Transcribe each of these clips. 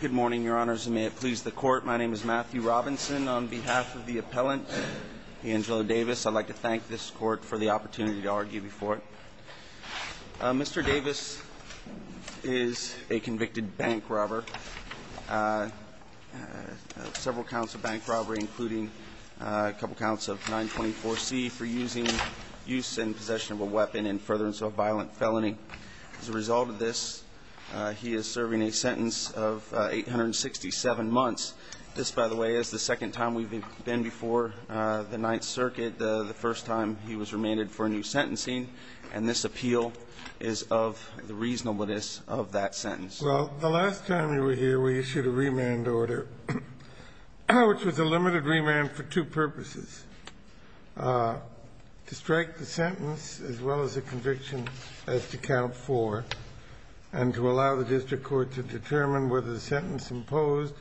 Good morning, your honors, and may it please the court. My name is Matthew Robinson. On behalf of the appellant, Angelo Davis, I'd like to thank this court for the opportunity to argue before it. Mr. Davis is a convicted bank robber, several counts of bank robbery, including a couple counts of 924C for using use and possession of a weapon in furtherance of a violent felony. As a result of this, he is serving a sentence of 867 months. This, by the way, is the second time we've been before the Ninth Circuit, the first time he was remanded for a new sentencing, and this appeal is of the reasonableness of that sentence. Well, the last time you were here, we issued a remand order, which was a limited remand for two purposes, to strike the sentence as well as the conviction as to count 4, and to allow the district court to determine whether the sentence imposed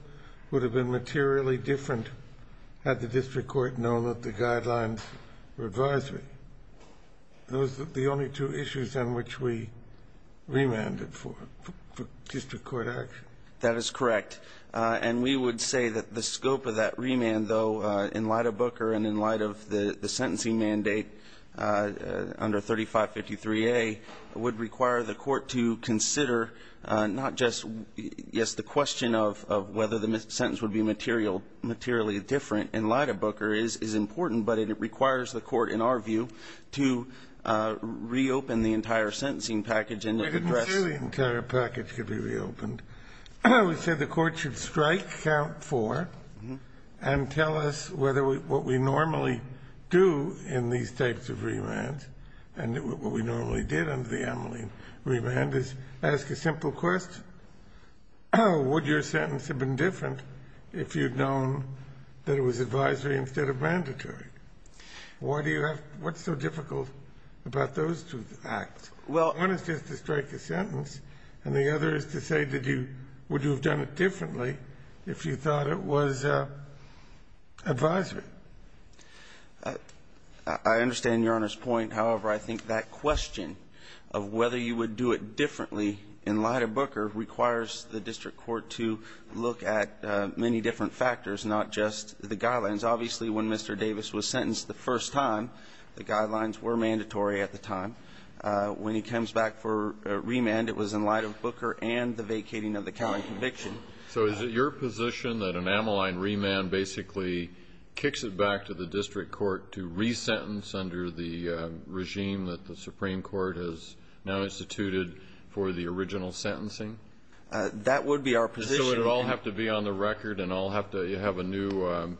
would have been materially different had the district court known that the guidelines were different. And that was the only two issues on which we remanded for district court action. That is correct. And we would say that the scope of that remand, though, in light of Booker and in light of the sentencing mandate under 3553A, would require the court to consider not just, yes, the question of whether the sentence would be material or materially different in light of Booker is important, but it requires the court, in our view, to reopen the entire sentencing package and address. We didn't say the entire package could be reopened. We said the court should strike count 4 and tell us whether what we normally do in these types of remands, and what we normally did under the Ameline remand, is ask a simple question. Would your sentence have been different if you'd known that it was advisory instead of mandatory? Why do you have to be so difficult about those two acts? Well, one is just to strike a sentence, and the other is to say, did you do it differently if you thought it was advisory? I understand Your Honor's point. However, I think that question of whether you would do it differently in light of Booker requires the district court to look at many different factors, not just the guidelines. Obviously, when Mr. Davis was sentenced the first time, the guidelines were mandatory at the time. When he comes back for a remand, it was in light of Booker and the vacating of the counting conviction. So is it your position that an Ameline remand basically kicks it back to the district court to re-sentence under the regime that the Supreme Court has now instituted for the original sentencing? That would be our position. So it would all have to be on the record, and I'll have to have a new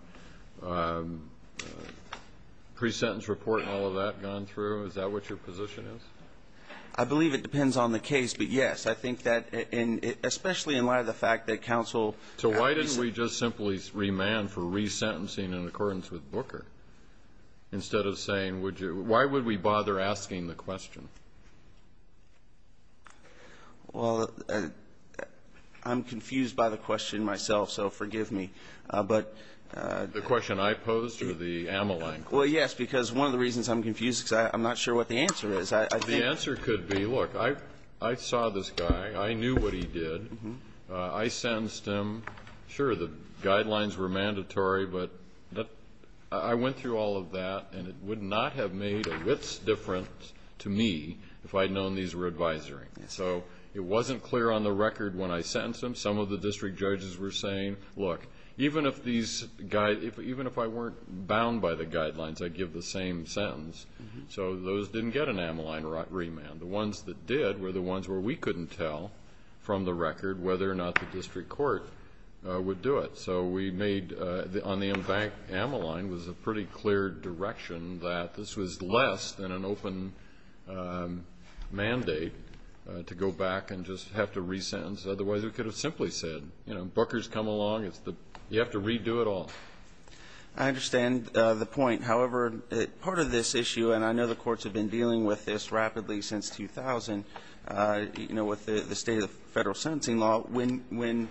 pre-sentence report and all of that gone through? Is that what your position is? I believe it depends on the case, but yes. I think that, especially in light of the fact that counsel... So why didn't we just simply remand for re-sentencing in accordance with Booker? Instead of saying, would you why would we bother asking the question? Well, I'm confused by the question myself, so forgive me, but... The question I posed or the Ameline? Well, yes, because one of the reasons I'm confused is because I'm not sure what the answer is. The answer could be, look, I saw this guy. I knew what he did. I sentenced him. Sure, the guidelines were mandatory, but I went through all of that, and it would not have made a width's difference to me if I'd known these were advisory. So it wasn't clear on the record when I sentenced him. Some of the district judges were saying, look, even if I weren't bound by the guidelines, I'd give the same sentence. So those didn't get an Ameline remand. The ones that did were the ones where we couldn't tell from the record whether or not the district court would do it. So we made, on the Ameline, was a pretty clear direction that this was less than an open mandate to go back and just have to re-sentence, otherwise we could have simply said, you know, Booker's come along, you have to redo it all. I understand the point. However, part of this issue, and I know the courts have been dealing with this rapidly since 2000, you know, with the state of federal sentencing law, when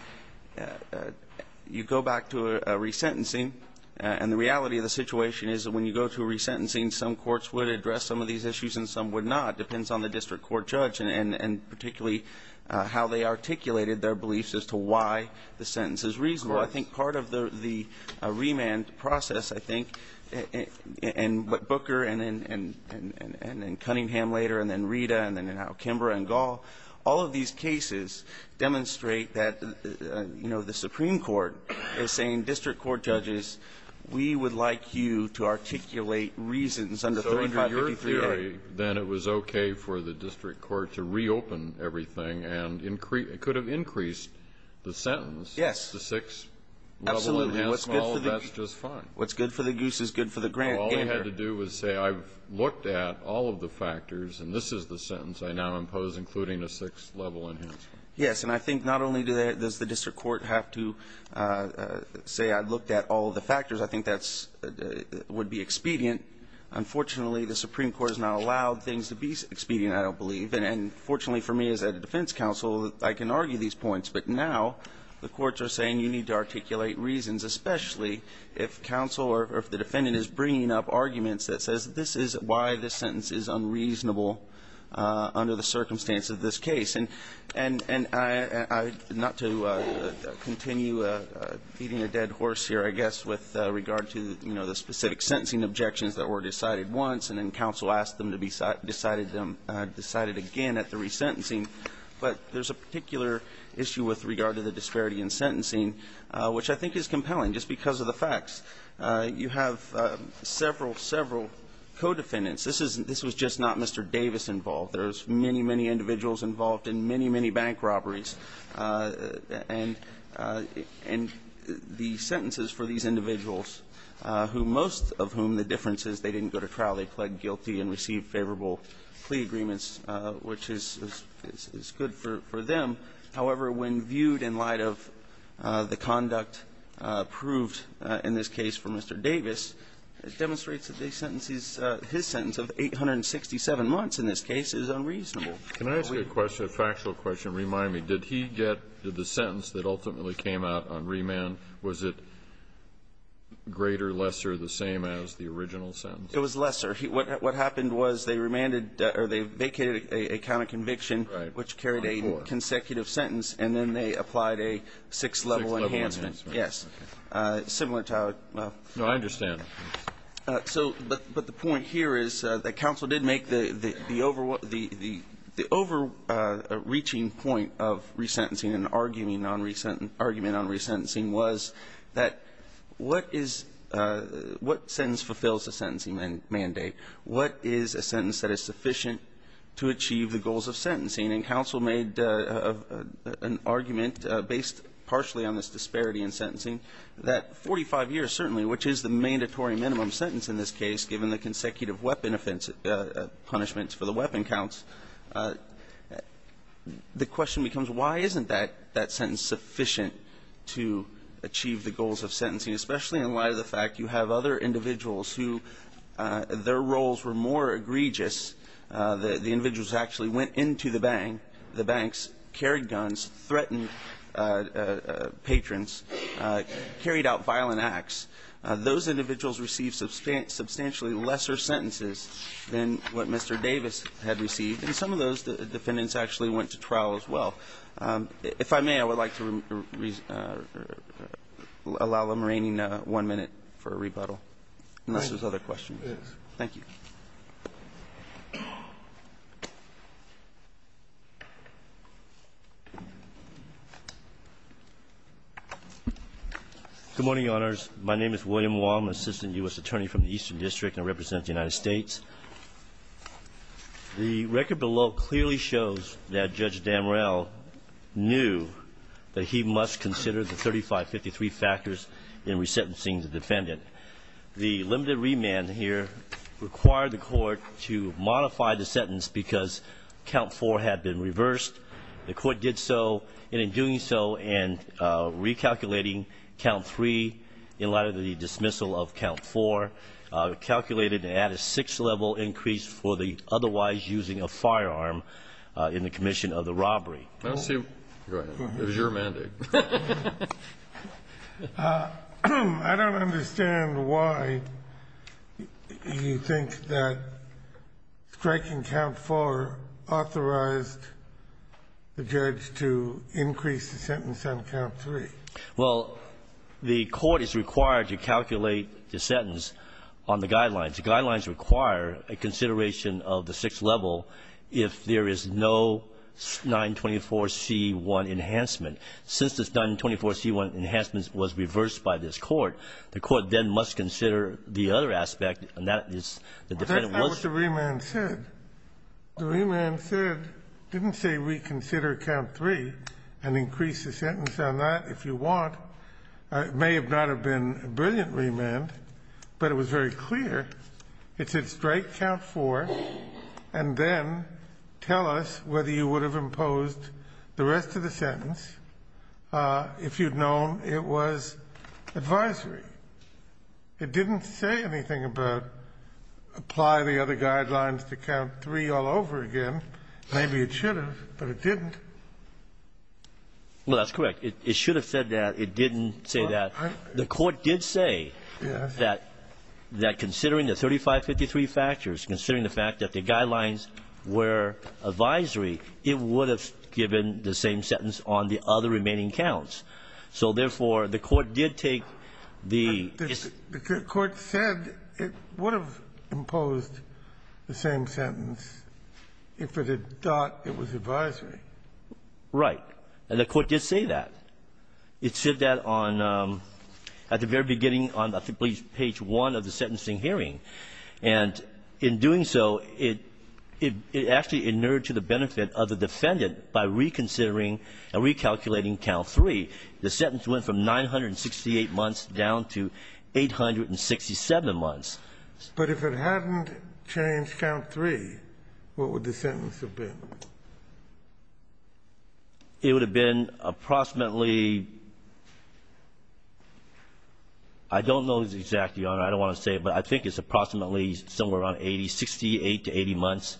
you go back to a re-sentencing, and the reality of the situation is that when you go to a re-sentencing, some courts would address some of these issues and some would not. It depends on the district court judge and particularly how they articulated their beliefs as to why the sentence is reasonable. Of course. I think part of the remand process, I think, and what Booker and then Cunningham later and then Rita and then now Kimber and Gall, all of these cases demonstrate that, you know, the Supreme Court is saying, district court judges, we would like you to articulate reasons under 3553A. So under your theory, then it was okay for the district court to reopen everything and increase the sentence. It could have increased the sentence. Yes. It's the sixth level and that's just fine. What's good for the goose is good for the gander. All he had to do was say, I've looked at all of the factors and this is the sentence I now impose, including a sixth level enhancement. Yes. And I think not only does the district court have to say, I've looked at all of the factors, I think that would be expedient. Unfortunately, the Supreme Court has not allowed things to be expedient, I don't believe. And fortunately for me as a defense counsel, I can argue these points. But now the courts are saying you need to articulate reasons, especially if counsel or if the defendant is bringing up arguments that says, this is why this sentence is unreasonable under the circumstance of this case. And not to continue beating a dead horse here, I guess, with regard to the specific sentencing objections that were decided once and then counsel asked them to be decided again at the resentencing. But there's a particular issue with regard to the disparity in sentencing, which I think is compelling, just because of the facts. You have several, several co-defendants. This was just not Mr. Davis involved. There's many, many individuals involved in many, many bank robberies. And the sentences for these individuals, who most of whom the difference is they didn't go to trial, they pled guilty and received favorable plea agreements, which is good for them. However, when viewed in light of the conduct proved in this case for Mr. Davis, it demonstrates that his sentence of 867 months in this case is unreasonable. Can I ask you a question, a factual question? Remind me, did he get the sentence that ultimately came out on remand, was it greater, lesser, the same as the original sentence? It was lesser. What happened was they remanded or they vacated a count of conviction, which carried a consecutive sentence, and then they applied a six-level enhancement. Six-level enhancement. Yes. Similar to our... No, I understand. But the point here is that counsel did make the overreaching point of resentencing and argument on resentencing was that what sentence fulfills a sentencing mandate? What is a sentence that is sufficient to achieve the goals of sentencing? And counsel made an argument based partially on this disparity in sentencing that 45 years, certainly, which is the mandatory minimum sentence in this case, given the consecutive weapon offense, punishments for the weapon counts, the question becomes why isn't that sentence sufficient to achieve the goals of sentencing, especially in light of the fact you have other individuals who, their roles were more egregious, the individuals actually went into the bank, the banks, carried guns, threatened patrons, carried out violent acts, those individuals received substantially lesser sentences than what Mr. Davis had received. And some of those defendants actually went to trial as well. If I may, I would like to allow the remaining one minute for a rebuttal unless there's other questions. Thank you. Good morning, Your Honors. My name is William Wong, Assistant U.S. Attorney from the Eastern District and I represent the United States. The record below clearly shows that Judge Damrell knew that he must consider the 3553 factors in resentencing the defendant. The limited remand here required the court to modify the sentence because count four had been reversed. The court did so, and in doing so and recalculating count three in light of the dismissal of count four, calculated to add a six-level increase for the otherwise using of firearm in the commission of the robbery. Go ahead. It was your mandate. I don't understand why you think that striking count four authorized the judge to increase the sentence on count three. Well, the court is required to calculate the sentence on the guidelines. The guidelines require a consideration of the six-level if there is no 924C1 enhancement. Since this 924C1 enhancement was reversed by this court, the court then must consider the other aspect and that is the defendant was That's not what the remand said. The remand said, didn't say reconsider count three and increase the sentence on that if you want. It may have not have been a brilliant remand, but it was very clear. It said strike count four and then tell us whether you would have imposed the rest of the sentence if you had known it was advisory. It didn't say anything about apply the other guidelines to count three all over again. Maybe it should have, but it didn't. Well, that's correct. It should have said that. It didn't say that. The court did say that considering the 3553 factors, considering the fact that the same sentence on the other remaining counts. So, therefore, the court did take the The court said it would have imposed the same sentence if it had thought it was advisory. Right. And the court did say that. It said that on at the very beginning on page one of the sentencing hearing. And in doing so, it actually inured to the benefit of the defendant by reconsidering and recalculating count three. The sentence went from 968 months down to 867 months. But if it hadn't changed count three, what would the sentence have been? It would have been approximately, I don't know exactly, Your Honor, I don't want to say it, but I think it's approximately somewhere around 80, 68 to 80 months.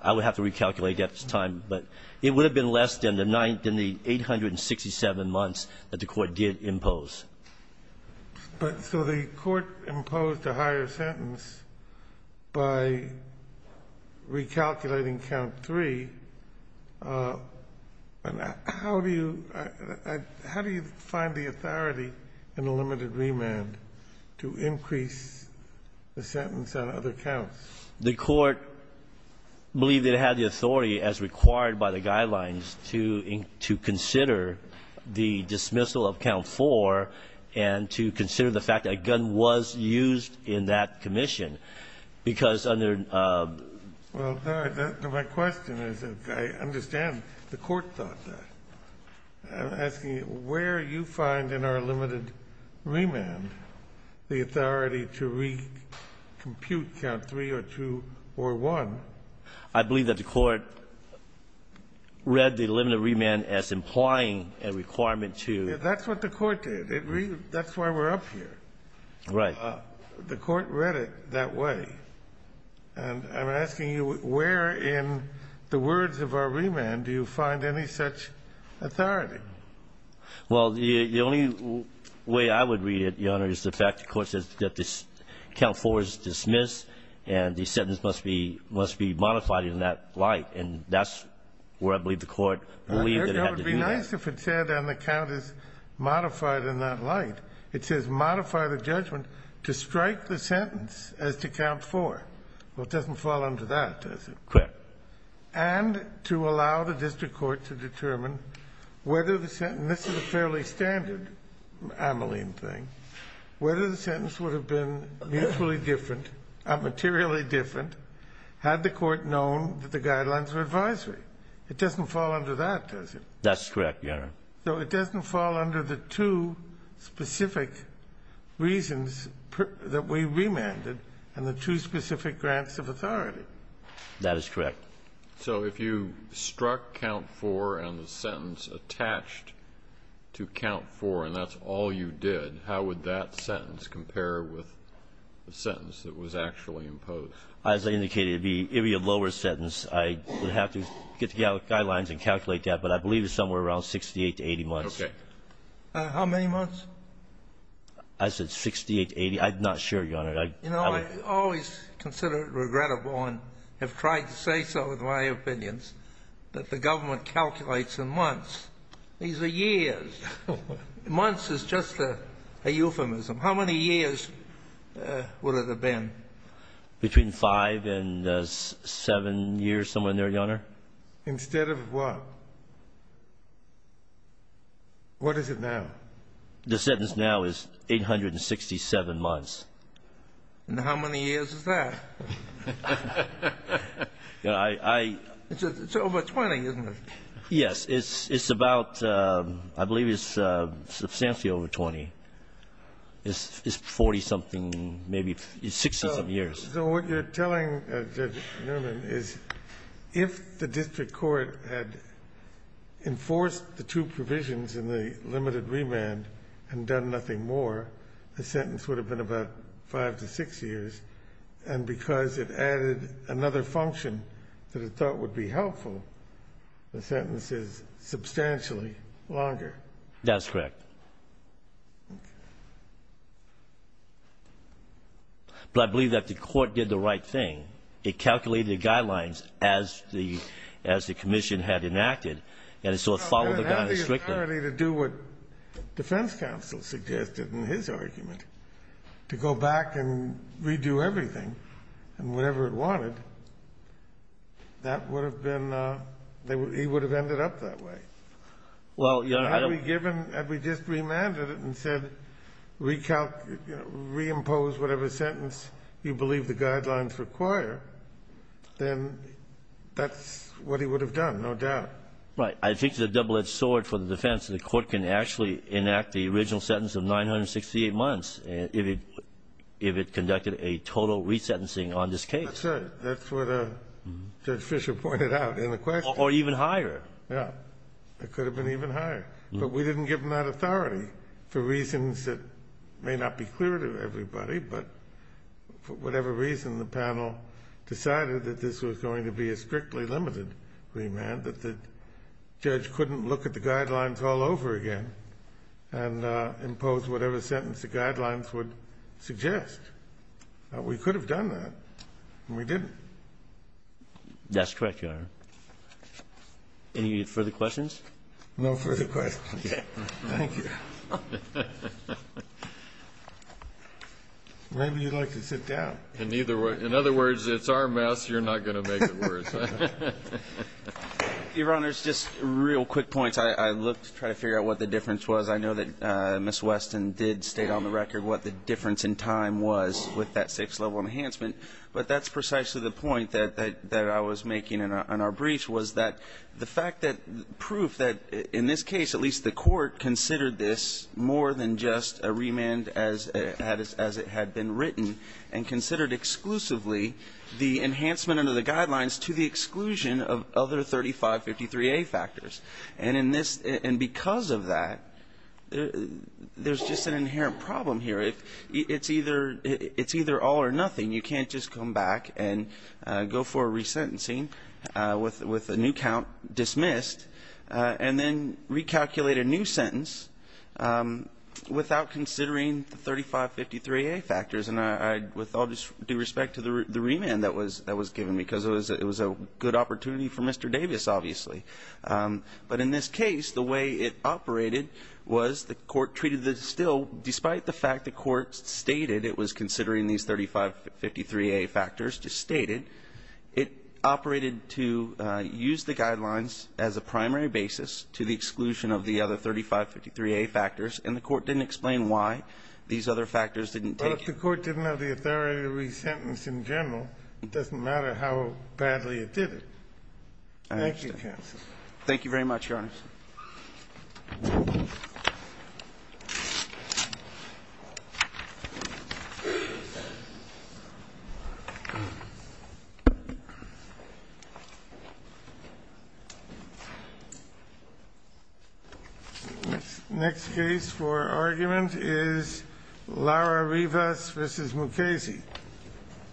I would have to recalculate that time. But it would have been less than the 867 months that the court did impose. But so the court imposed a higher sentence by recalculating count three. And how do you find the authority in the limited remand to increase the sentence on other counts? The court believed it had the authority as required by the guidelines to consider the dismissal of count four and to consider the fact that a gun was used in that commission, because under Well, my question is, I understand the court thought that. I'm asking where you find in our limited remand the authority to recompute count three or two or one. I believe that the court read the limited remand as implying a requirement to That's what the court did. That's why we're up here. Right. The court read it that way. And I'm asking you, where in the words of our remand do you find any such authority? Well, the only way I would read it, Your Honor, is the fact the court says that this count four is dismissed and the sentence must be modified in that light. And that's where I believe the court believed that it had to do that. It would be nice if it said, and the count is modified in that light. It says modify the judgment to strike the sentence as to count four. Well, it doesn't fall under that, does it? Correct. And to allow the district court to determine whether the sentence, and this is a fairly standard Ameline thing, whether the sentence would have been mutually different or materially different had the court known that the guidelines were advisory. It doesn't fall under that, does it? That's correct, Your Honor. So it doesn't fall under the two specific reasons that we remanded and the two specific grants of authority? That is correct. So if you struck count four and the sentence attached to count four and that's all you did, how would that sentence compare with the sentence that was actually imposed? As I indicated, it would be a lower sentence. I would have to get the guidelines and calculate that, but I believe it's somewhere around 68 to 80 months. Okay. How many months? I said 68 to 80. I'm not sure, Your Honor. You know, I always consider it regrettable and have tried to say so with my opinions that the government calculates in months. These are years. Months is just a euphemism. How many years would it have been? Between five and seven years, somewhere in there, Your Honor. Instead of what? What is it now? The sentence now is 867 months. And how many years is that? It's over 20, isn't it? Yes. It's about, I believe it's substantially over 20. It's 40-something, maybe 60-some years. So what you're telling, Judge Nerman, is if the district court had enforced the two provisions in the limited remand and done nothing more, the sentence would have been about five to six years, and because it added another function that it thought would be helpful, the sentence is substantially longer. That's correct. Okay. But I believe that the court did the right thing. It calculated the guidelines as the commission had enacted, and so it followed the guidance strictly. If it had the authority to do what defense counsel suggested in his argument, to go back and redo everything and whatever it wanted, that would have been, he would have ended up that way. Well, Your Honor, I don't If the court had given, had we just remanded it and said, reimpose whatever sentence you believe the guidelines require, then that's what he would have done, no doubt. Right. I think it's a double-edged sword for the defense. The court can actually enact the original sentence of 968 months if it conducted a total resentencing on this case. That's right. That's what Judge Fischer pointed out in the question. Or even higher. Yeah, it could have been even higher. But we didn't give him that authority for reasons that may not be clear to everybody, but for whatever reason, the panel decided that this was going to be a strictly limited remand, that the judge couldn't look at the guidelines all over again and impose whatever sentence the guidelines would suggest. We could have done that, and we didn't. That's correct, Your Honor. Any further questions? No further questions. Thank you. Maybe you'd like to sit down. In other words, it's our mess. You're not going to make it worse. Your Honor, just real quick points. I looked to try to figure out what the difference was. I know that Ms. Weston did state on the record what the difference in time was with that safe level enhancement, but that's precisely the point that I was making in our brief, was that the fact that the proof that, in this case, at least the court considered this more than just a remand as it had been written and considered exclusively the enhancement under the guidelines to the exclusion of other 3553A factors. And because of that, there's just an inherent problem here. It's either all or nothing. You can't just come back and go for a resentencing with a new count dismissed and then recalculate a new sentence without considering the 3553A factors. And with all due respect to the remand that was given, because it was a good opportunity for Mr. Davis, obviously. But in this case, the way it operated was the court treated it still, despite the fact the court stated it was considering these 3553A factors, just stated, it operated to use the guidelines as a primary basis to the exclusion of the other 3553A factors, and the court didn't explain why these other factors didn't take it. The court didn't have the authority to resentence in general. It doesn't matter how badly it did it. Thank you, counsel. Thank you very much, Your Honor. Thank you, Mr. Davis. Next case for argument is Lara Rivas v. Mukasey.